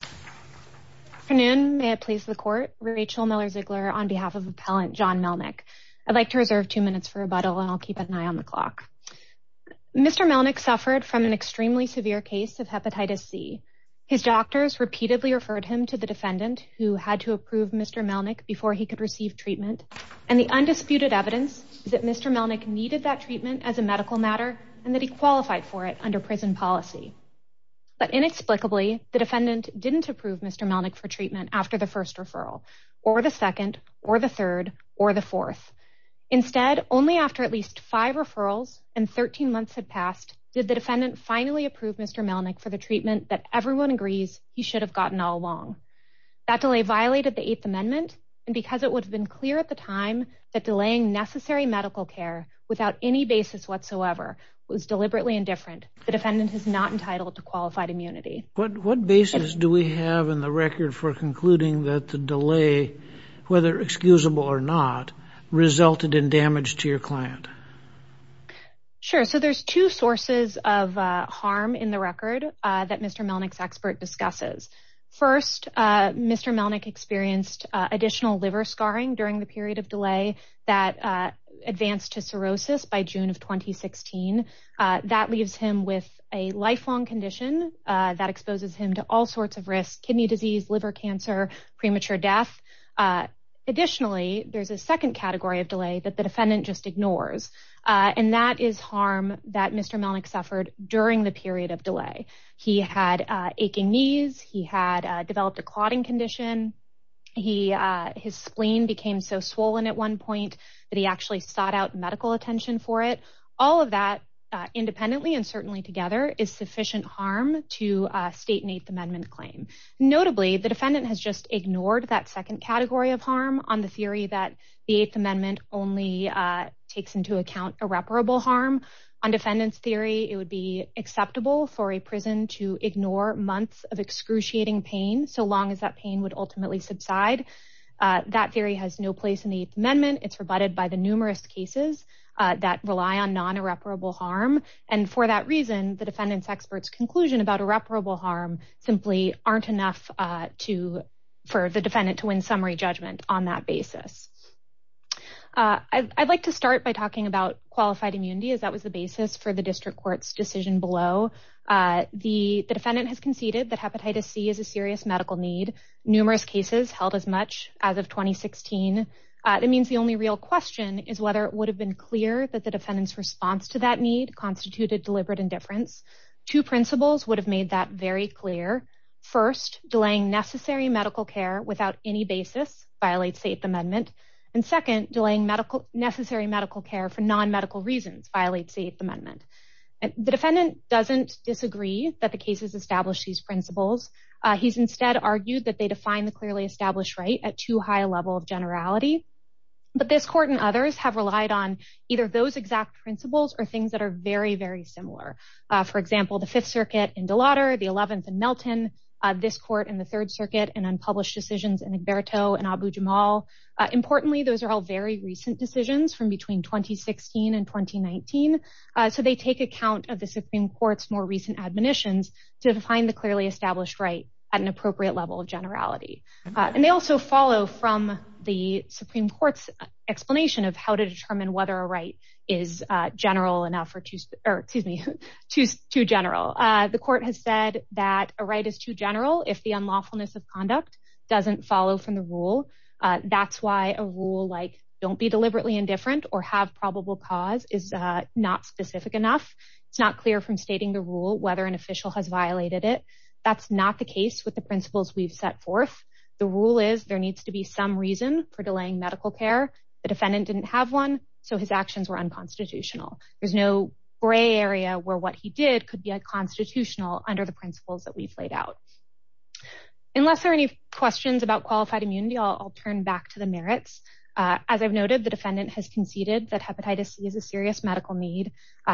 Good afternoon. May it please the court. Rachel Miller Ziegler on behalf of appellant John Melnik. I'd like to reserve two minutes for rebuttal and I'll keep an eye on the clock. Mr Melnik suffered from an extremely severe case of hepatitis C. His doctors repeatedly referred him to the defendant who had to approve Mr Melnik before he could receive treatment. And the undisputed evidence that Mr Melnik needed that treatment as a medical matter and that qualified for it under prison policy. But inexplicably, the defendant didn't approve Mr Melnik for treatment after the first referral or the second or the third or the fourth. Instead, only after at least five referrals and 13 months had passed, did the defendant finally approved Mr Melnik for the treatment that everyone agrees he should have gotten all along. That delay violated the Eighth Amendment and because it would have been clear at the time that any basis whatsoever was deliberately indifferent, the defendant is not entitled to qualified immunity. What basis do we have in the record for concluding that the delay, whether excusable or not, resulted in damage to your client? Sure, so there's two sources of harm in the record that Mr Melnik's expert discusses. First, Mr Melnik experienced additional liver scarring during the period of delay that advanced to cirrhosis by June of 2016. That leaves him with a lifelong condition that exposes him to all sorts of risks, kidney disease, liver cancer, premature death. Additionally, there's a second category of delay that the defendant just ignores and that is harm that Mr Melnik suffered during the period of delay. He had aching knees, he his spleen became so swollen at one point that he actually sought out medical attention for it. All of that independently and certainly together is sufficient harm to state an Eighth Amendment claim. Notably, the defendant has just ignored that second category of harm on the theory that the Eighth Amendment only takes into account irreparable harm. On defendants theory, it would be acceptable for a prison to ignore months of excruciating pain so long as that pain would ultimately subside. That theory has no place in the Eighth Amendment. It's rebutted by the numerous cases that rely on non irreparable harm and for that reason the defendants experts conclusion about irreparable harm simply aren't enough for the defendant to win summary judgment on that basis. I'd like to start by talking about qualified immunity as that was the basis for the district courts decision below. The defendant has conceded that hepatitis C is a serious medical need. Numerous cases held as much as of 2016. It means the only real question is whether it would have been clear that the defendants response to that need constituted deliberate indifference. Two principles would have made that very clear. First, delaying necessary medical care without any basis violates the Eighth Amendment and second, delaying medical necessary medical care for non-medical reasons violates the Eighth Amendment. The defendant doesn't disagree that the cases establish these principles. He's instead argued that they define the clearly established right at too high a level of generality but this court and others have relied on either those exact principles or things that are very very similar. For example, the Fifth Circuit in Delaware, the Eleventh in Melton, this court in the Third Circuit and unpublished decisions in Egberto and Abu-Jamal. Importantly, those are all very recent decisions from between 2016 and recent admonitions to define the clearly established right at an appropriate level of generality. And they also follow from the Supreme Court's explanation of how to determine whether a right is general enough or excuse me, too general. The court has said that a right is too general if the unlawfulness of conduct doesn't follow from the rule. That's why a rule like don't be deliberately indifferent or have probable cause is not specific enough. It's not clear from stating the rule whether an official has violated it. That's not the case with the principles we've set forth. The rule is there needs to be some reason for delaying medical care. The defendant didn't have one so his actions were unconstitutional. There's no gray area where what he did could be a constitutional under the principles that we've laid out. Unless there are any questions about qualified immunity, I'll turn back to the merits. As I've noted, the defendant has conceded that hepatitis C is a serious medical need.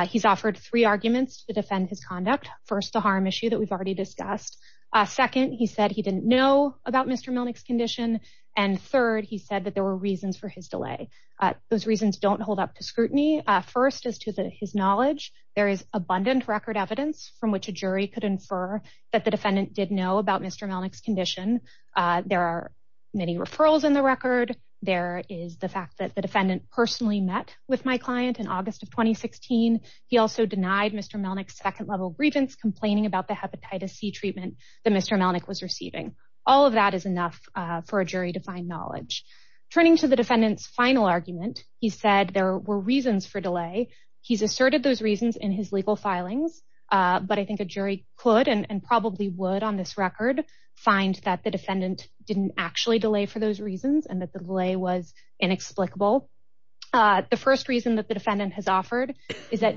He's offered three arguments to defend his conduct. First, the harm issue that we've already discussed. Second, he said he didn't know about Mr. Melnick's condition. And third, he said that there were reasons for his delay. Those reasons don't hold up to scrutiny. First, as to his knowledge, there is abundant record evidence from which a jury could infer that the defendant did know about Mr. Melnick's condition. There are many referrals in the record. There is the he also denied Mr. Melnick's second level grievance complaining about the hepatitis C treatment that Mr. Melnick was receiving. All of that is enough for a jury to find knowledge. Turning to the defendant's final argument, he said there were reasons for delay. He's asserted those reasons in his legal filings. But I think a jury could and probably would on this record find that the defendant didn't actually delay for those reasons and that the delay was that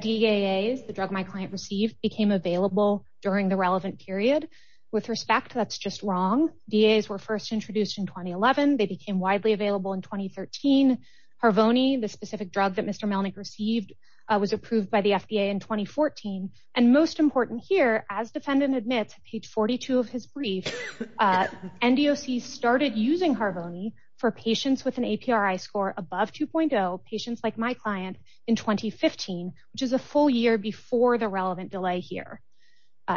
DAAs, the drug my client received, became available during the relevant period. With respect, that's just wrong. DAAs were first introduced in 2011. They became widely available in 2013. Harvoni, the specific drug that Mr. Melnick received, was approved by the FDA in 2014. And most important here, as defendant admits, page 42 of his brief, NDOC started using Harvoni for patients with an APRI score above 2.0, patients like my client, in 2015, which is a full year before the relevant delay here.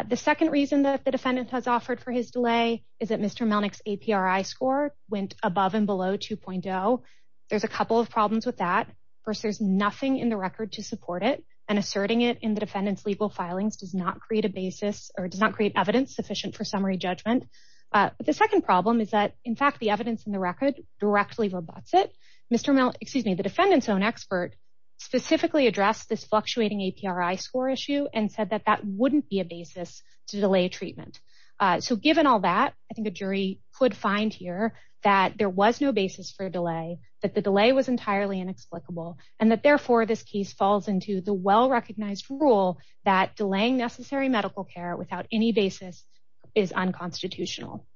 The second reason that the defendant has offered for his delay is that Mr. Melnick's APRI score went above and below 2.0. There's a couple of problems with that. First, there's nothing in the record to support it. And asserting it in the defendant's legal filings does not create a basis or does not create evidence sufficient for summary judgment. But the second problem is that, in fact, the evidence in the Mr. Melnick, excuse me, the defendant's own expert specifically addressed this fluctuating APRI score issue and said that that wouldn't be a basis to delay treatment. So given all that, I think the jury could find here that there was no basis for a delay, that the delay was entirely inexplicable, and that therefore this case falls into the well-recognized rule that delaying necessary medical care without any basis is unconstitutional.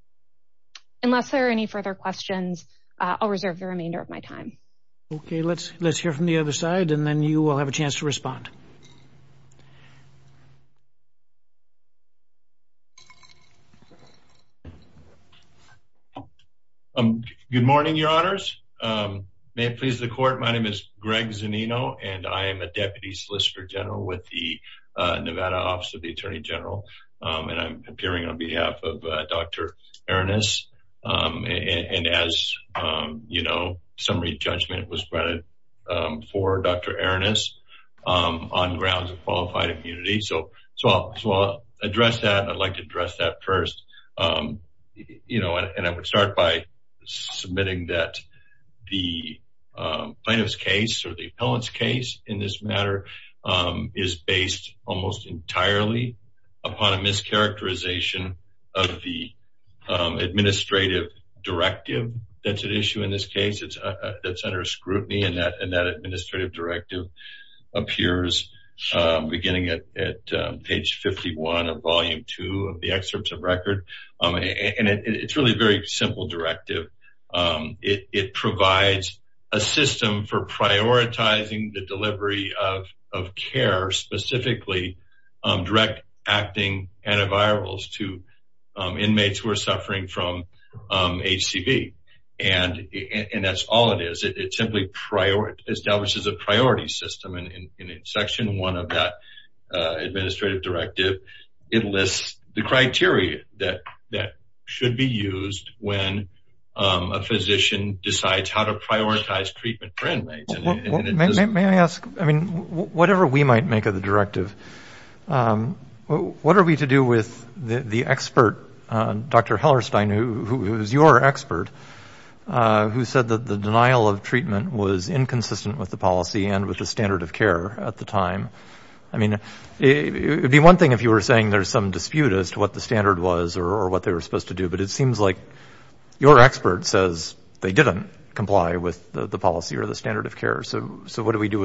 Unless there are further questions, I'll reserve the remainder of my time. Okay, let's hear from the other side, and then you will have a chance to respond. Good morning, Your Honors. May it please the Court, my name is Greg Zanino, and I am a Deputy Solicitor General with the Nevada Office of the Attorney General, and I'm appearing on behalf of Dr. Aronis. And as you know, summary judgment was granted for Dr. Aronis on grounds of qualified immunity. So I'll address that, I'd like to address that first. You know, and I would start by submitting that the plaintiff's case or the appellant's case in this matter is based almost entirely upon a mischaracterization of the administrative directive that's at issue in this case. It's under scrutiny, and that administrative directive appears beginning at page 51 of volume 2 of the excerpts of record. And it's really a very simple directive. It provides a system for prioritizing the delivery of care, specifically direct acting antivirals to inmates who are suffering from HCV. And that's all it is. It simply establishes a priority system, and in section 1 of that administrative directive, it lists the criteria that should be used when a physician decides how to prioritize treatment for inmates. May I ask, I mean, whatever we might make of the directive, what are we to do with the expert, Dr. Hellerstein, who is your expert, who said that the denial of treatment was inconsistent with the policy and with the standard of care? So what do we do with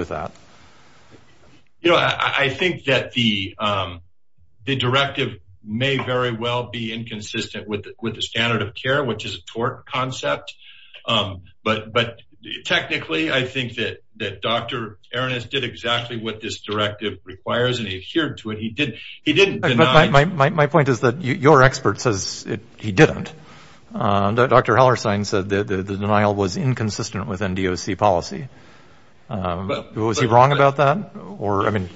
that? You know, I think that the directive may very well be inconsistent with the standard of care, which is a tort concept. But technically, I think that Dr. Arenas did exactly what this point is that your expert says he didn't. Dr. Hellerstein said that the denial was inconsistent with NDOC policy. Was he wrong about that? Or, I mean,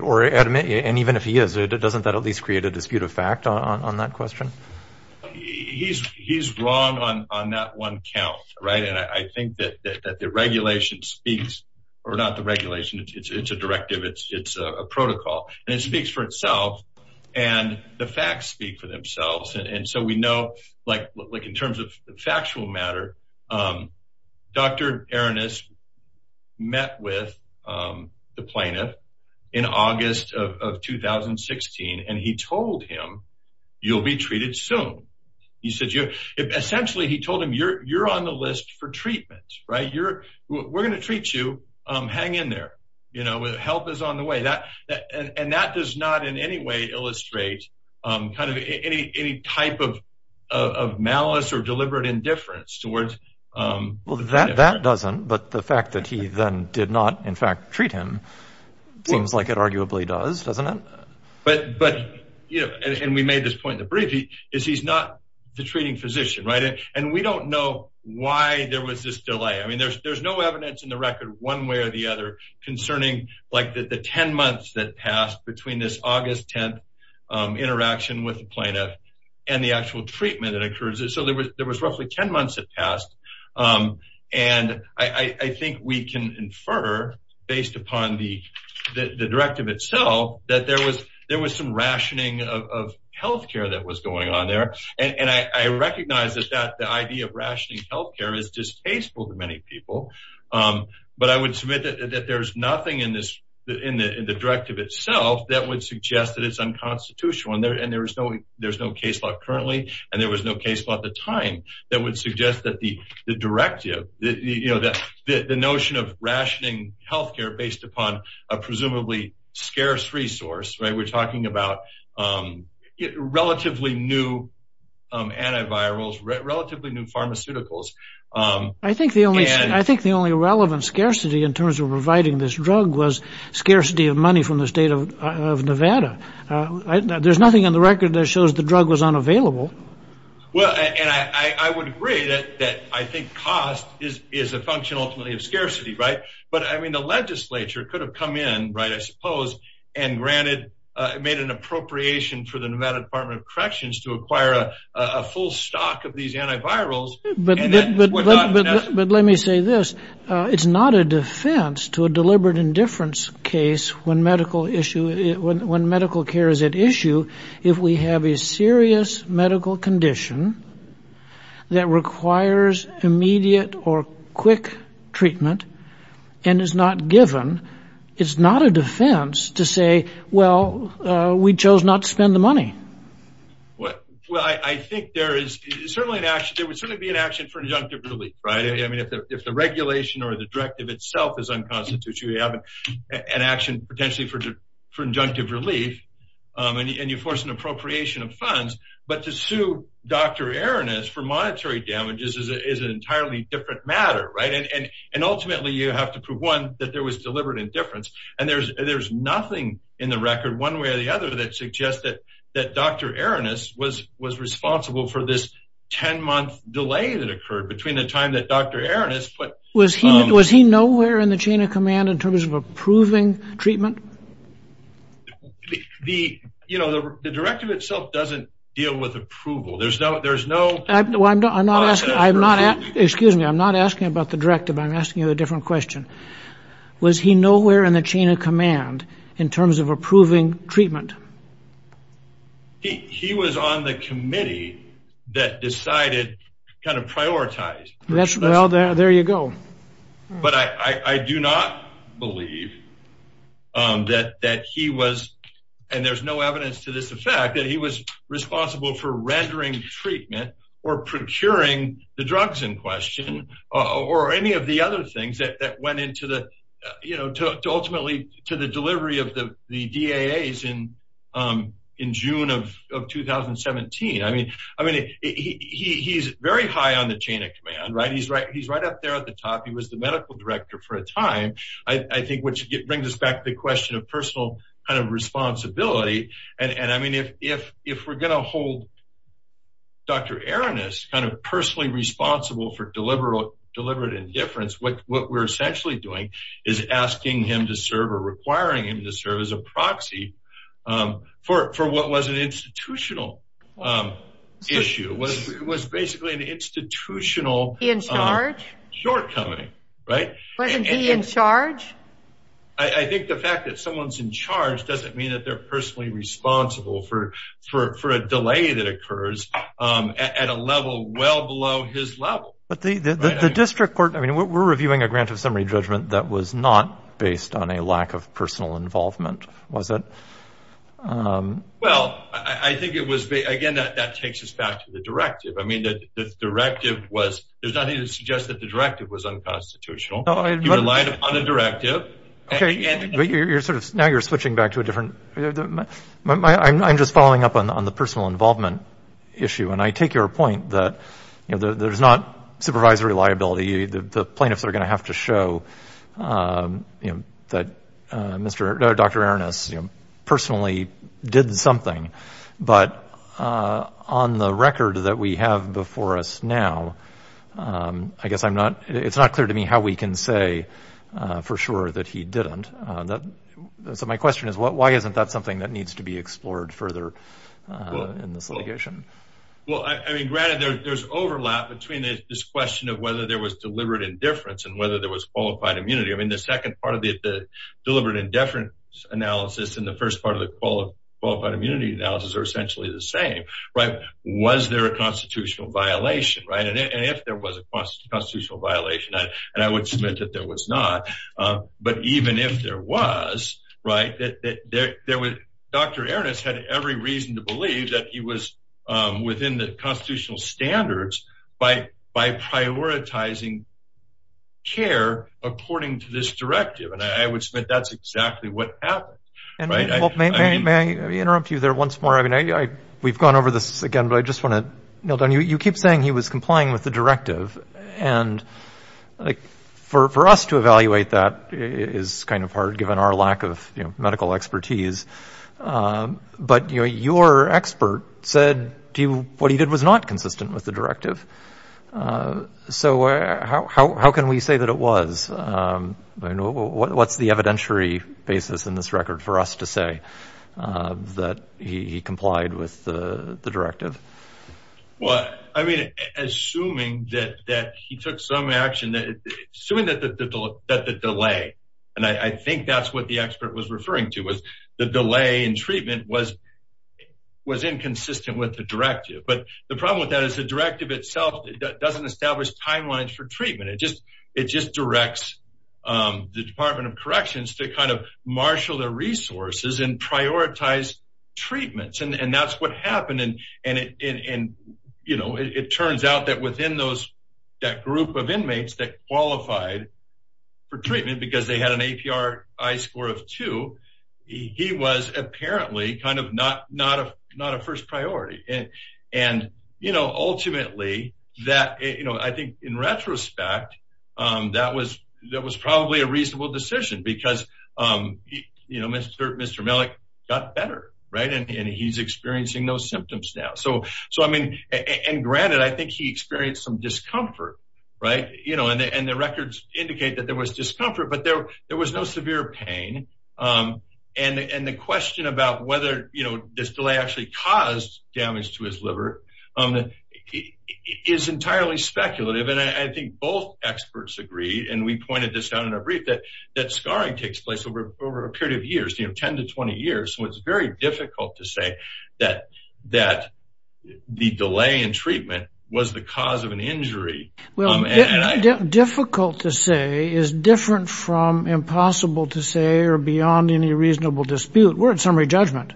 or admit, and even if he is, doesn't that at least create a dispute of fact on that question? He's wrong on that one count, right? And I think that the regulation speaks, or not the regulation, it's a directive, it's a protocol, and it speaks for itself. And the facts speak for themselves. And so we know, like, in terms of factual matter, Dr. Arenas met with the plaintiff in August of 2016, and he told him, you'll be treated soon. He said, essentially, he told him, you're on the list for treatment, right? We're going to treat you. Hang in there. You know, help is on the way. And that does not in any way illustrate kind of any type of malice or deliberate indifference towards- Well, that doesn't, but the fact that he then did not, in fact, treat him, seems like it arguably does, doesn't it? But, you know, and we made this point in the brief, is he's not the treating physician, right? And we don't know why there was this delay. I mean, there's no evidence in the record one way or the other concerning, like, the 10 months that passed between this August 10th interaction with the plaintiff and the actual treatment that occurred. So there was roughly 10 months that passed. And I think we can infer, based upon the directive itself, that there was some rationing of healthcare that was going on there. And I would submit that there's nothing in the directive itself that would suggest that it's unconstitutional. And there's no case law currently, and there was no case law at the time that would suggest that the directive, you know, the notion of rationing healthcare based upon a presumably scarce resource, right? We're talking about relatively new antivirals, relatively new pharmaceuticals. I think the only relevant scarcity in terms of providing this drug was scarcity of money from the state of Nevada. There's nothing on the record that shows the drug was unavailable. Well, and I would agree that I think cost is a function ultimately of scarcity, right? But I mean, the legislature could have come in, right, I suppose, and granted, made an stock of these antivirals. But let me say this. It's not a defense to a deliberate indifference case when medical care is at issue. If we have a serious medical condition that requires immediate or quick treatment, and is not given, it's not a defense to say, well, we chose not to spend the money. Well, I think there is certainly an action, there would certainly be an action for injunctive relief, right? I mean, if the regulation or the directive itself is unconstitutional, you have an action potentially for injunctive relief, and you force an appropriation of funds. But to sue Dr. Aaron is for monetary damages is an entirely different matter, right? And ultimately, you have to prove one that there was deliberate indifference. And there's there's nothing in the record one way or the other that suggests that that Dr. Aaron is was was responsible for this 10 month delay that occurred between the time that Dr. Aaron is put. Was he was he nowhere in the chain of command in terms of approving treatment? The you know, the directive itself doesn't deal with approval. There's no there's no I'm not I'm not asking. I'm not. Excuse me. I'm not asking about the directive. I'm asking a different question. Was he nowhere in the chain of command in terms of approving treatment? He was on the committee that decided kind of prioritize. That's well, there you go. But I do not believe that that he was. And there's no evidence to this effect that he was responsible for rendering treatment or procuring the drugs in question, or any of the other things that went into the, you know, to ultimately to the delivery of the the DA is in in June of 2017. I mean, I mean, he's very high on the chain of command, right? He's right. He's right up there at the top. He was the medical director for a time, I think, which brings us back to the question of personal kind of responsibility. And I mean, if if if we're going to hold Dr. Aaron is kind of what we're essentially doing is asking him to serve or requiring him to serve as a proxy for for what was an institutional issue was was basically an institutional in charge shortcoming, right? Wasn't he in charge? I think the fact that someone's in charge doesn't mean that they're personally responsible for for a delay that occurs at a level well below his level. The district court, I mean, we're reviewing a grant of summary judgment that was not based on a lack of personal involvement, was it? Well, I think it was, again, that that takes us back to the directive. I mean, the directive was, there's nothing to suggest that the directive was unconstitutional. No, I relied upon the directive. Okay, but you're sort of now you're switching back to a different I'm just following up on the personal involvement issue. And I take your point that, you know, there's not supervisory liability, the plaintiffs are going to have to show that Mr. Dr. Aaron is personally did something. But on the record that we have before us now, I guess I'm not it's not clear to me how we can say for sure that he didn't. So my question is what why isn't that something that needs to be explored further? In this litigation? Well, I mean, granted, there's overlap between this question of whether there was deliberate indifference and whether there was qualified immunity. I mean, the second part of the deliberate indifference analysis in the first part of the qualified immunity analysis are essentially the same, right? Was there a constitutional violation, right? And if there was a constitutional violation, and I would submit that there was not. But even if there was, right, that there was, Dr. Aaron has had every reason to believe that he was within the constitutional standards by by prioritizing care, according to this directive. And I would submit that's exactly what happened. May I interrupt you there once more? I mean, I we've gone over this again, but I just want to know that you keep saying he was complying with the directive. And like, for us to evaluate that is kind of hard, given our lack of medical expertise. But your expert said to you, what he did was not consistent with the directive. So how can we say that it was? What's the evidentiary basis in this record for us to say that he complied with the directive? Well, I mean, assuming that that he took some action that assuming that the delay, and I think that's what the expert was referring to was the delay in treatment was, was inconsistent with the directive. But the problem with that is the directive itself doesn't establish timelines for treatment. It just, it just directs the Department of Corrections to kind of marshal their resources and prioritize treatments. And that's what happened. And, and, you know, it turns out that within those, that group of inmates that qualified for treatment, because they had an APR, I score of two, he was apparently kind of not, not a not a first priority. And, and, you know, ultimately, that, you know, I think in retrospect, that was, that was probably a reasonable decision, because, you know, Mr. Mr. Malik got better, right? And he's experiencing those symptoms now. So, so I mean, and granted, I think he experienced some discomfort, right? You know, and the records indicate that there was discomfort, but there, there was no severe pain. And the question about whether, you know, this delay actually caused damage to his liver is entirely speculative. And I think both experts agree, and we pointed this out in a brief that, that scarring takes place over over a period of years. So it's very difficult to say that, that the delay in treatment was the cause of an injury. Well, difficult to say is different from impossible to say or beyond any reasonable dispute. We're in summary judgment.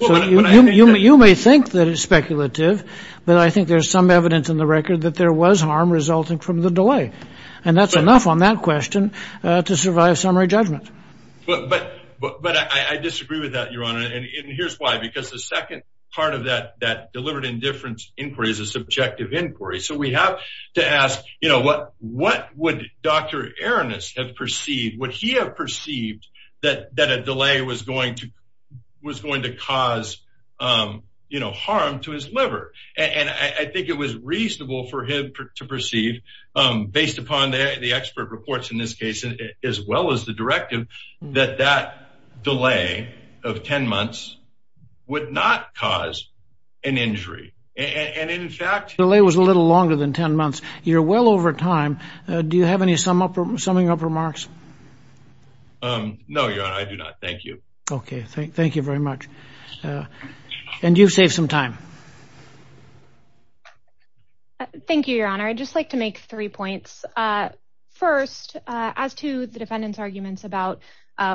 So you may think that it's speculative. But I think there's some evidence in the record that there was harm resulting from the delay. And that's enough on that question to survive summary judgment. But, but, but I disagree with that, Your Honor. And here's why. Because the second part of that, that delivered indifference inquiry is a subjective inquiry. So we have to ask, you know, what, what would Dr. Aronis have perceived, would he have perceived that that a delay was going to was going to cause, you know, harm to his liver. And I think it was reasonable for him to perceive, based upon the expert reports in this case, as well as the directive, that that delay of 10 months would not cause an injury. And in fact, delay was a little longer than 10 months. You're well over time. Do you have any summing up remarks? No, Your Honor, I do not. Thank you. Okay, thank you very much. And you've saved some time. Thank you, Your Honor. I just like to make three points. First, as to the defendant's arguments about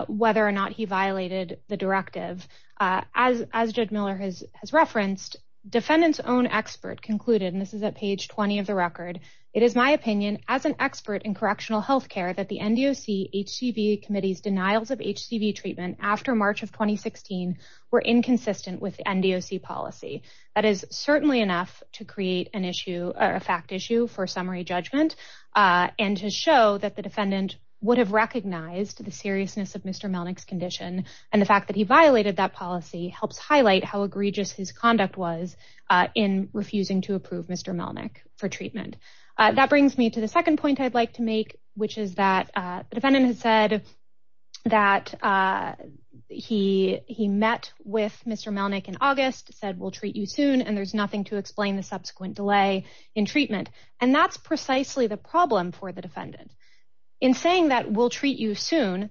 whether or not he violated the directive, as Judge Miller has referenced, defendant's own expert concluded, and this is at page 20 of the record, it is my opinion as an expert in correctional health care, that the NDOC HCV committee's denials of HCV treatment after March of 2016 were inconsistent with the NDOC policy. That is certainly enough to create an issue, a fact issue for summary judgment, and to show that the defendant would have recognized the seriousness of Mr. Melnick's condition. And the fact that he violated that policy helps highlight how egregious his conduct was in refusing to approve Mr. Melnick for treatment. That brings me to the second point I'd like to make, which is that the defendant has said that he met with Mr. Melnick in August, said we'll treat you soon, and there's nothing to explain the subsequent delay in treatment. And that's precisely the problem for the defendant. In saying that we'll treat you soon,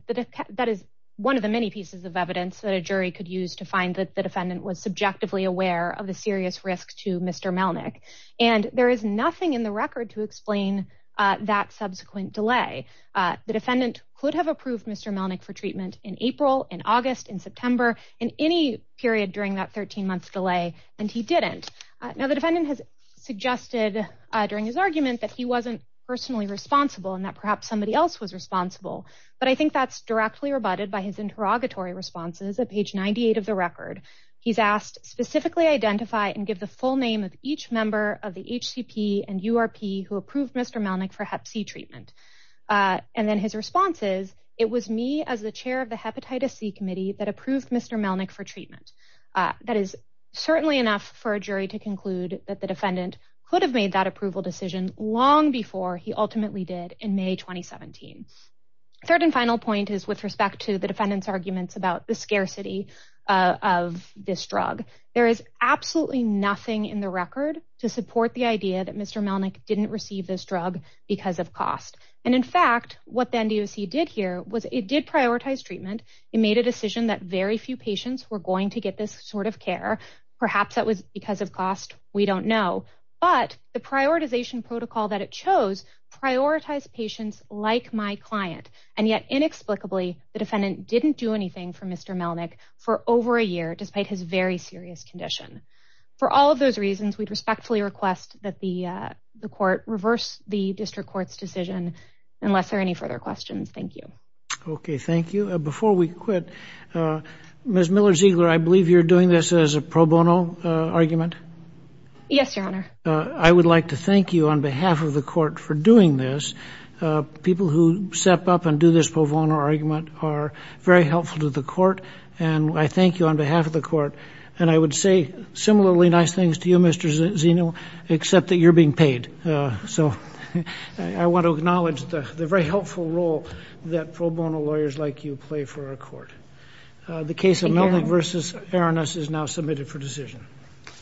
that is one of the many pieces of evidence that a jury could use to find that the defendant was subjectively aware of the serious risk to Mr. Melnick. And there is nothing in the record to explain that subsequent delay. The defendant could have approved Mr. Melnick for treatment in April, in August, in September, in any period during that 13-month delay, and he didn't. Now the defendant has suggested during his argument that he wasn't personally responsible and that perhaps somebody else was responsible. But I think that's directly rebutted by his interrogatory responses at page 98 of the record. He's asked, specifically identify and give the full name of each member of the HCP and URP who approved Mr. Melnick for hep C treatment. And then his response is, it was me as the chair of the hepatitis C committee that approved Mr. Melnick for treatment. That is certainly enough for a jury to conclude that the defendant could have made that approval decision long before he ultimately did in May 2017. Third and final point is with respect to the defendant's arguments about the scarcity of this drug. There is absolutely nothing in the record to support the idea that Mr. Melnick didn't receive this drug because of cost. And in fact, what the NDOC did here was it did prioritize treatment. It made a decision that very few patients were going to get this sort of care. Perhaps that was because of cost. We don't know. But the prioritization protocol that it chose prioritized patients like my client. And yet inexplicably, the defendant didn't do anything for Mr. Melnick for over a year despite his very serious condition. For all of those reasons, we'd respectfully request that the court reverse the district court's decision unless there are any further questions. Thank you. Okay, thank you. Before we quit, Ms. Miller-Ziegler, I believe you're doing this as a pro bono argument. Yes, Your Honor. I would like to thank you on behalf of the court for doing this. People who step up and do this pro bono argument are very helpful to the court. And I thank you on behalf of the court. And I would say similarly nice things to you, Mr. Zeno, except that you're being paid. So I want to acknowledge the very helpful role that pro bono lawyers like you play for our court. The case of Melnick v. Aranus is now submitted for decision.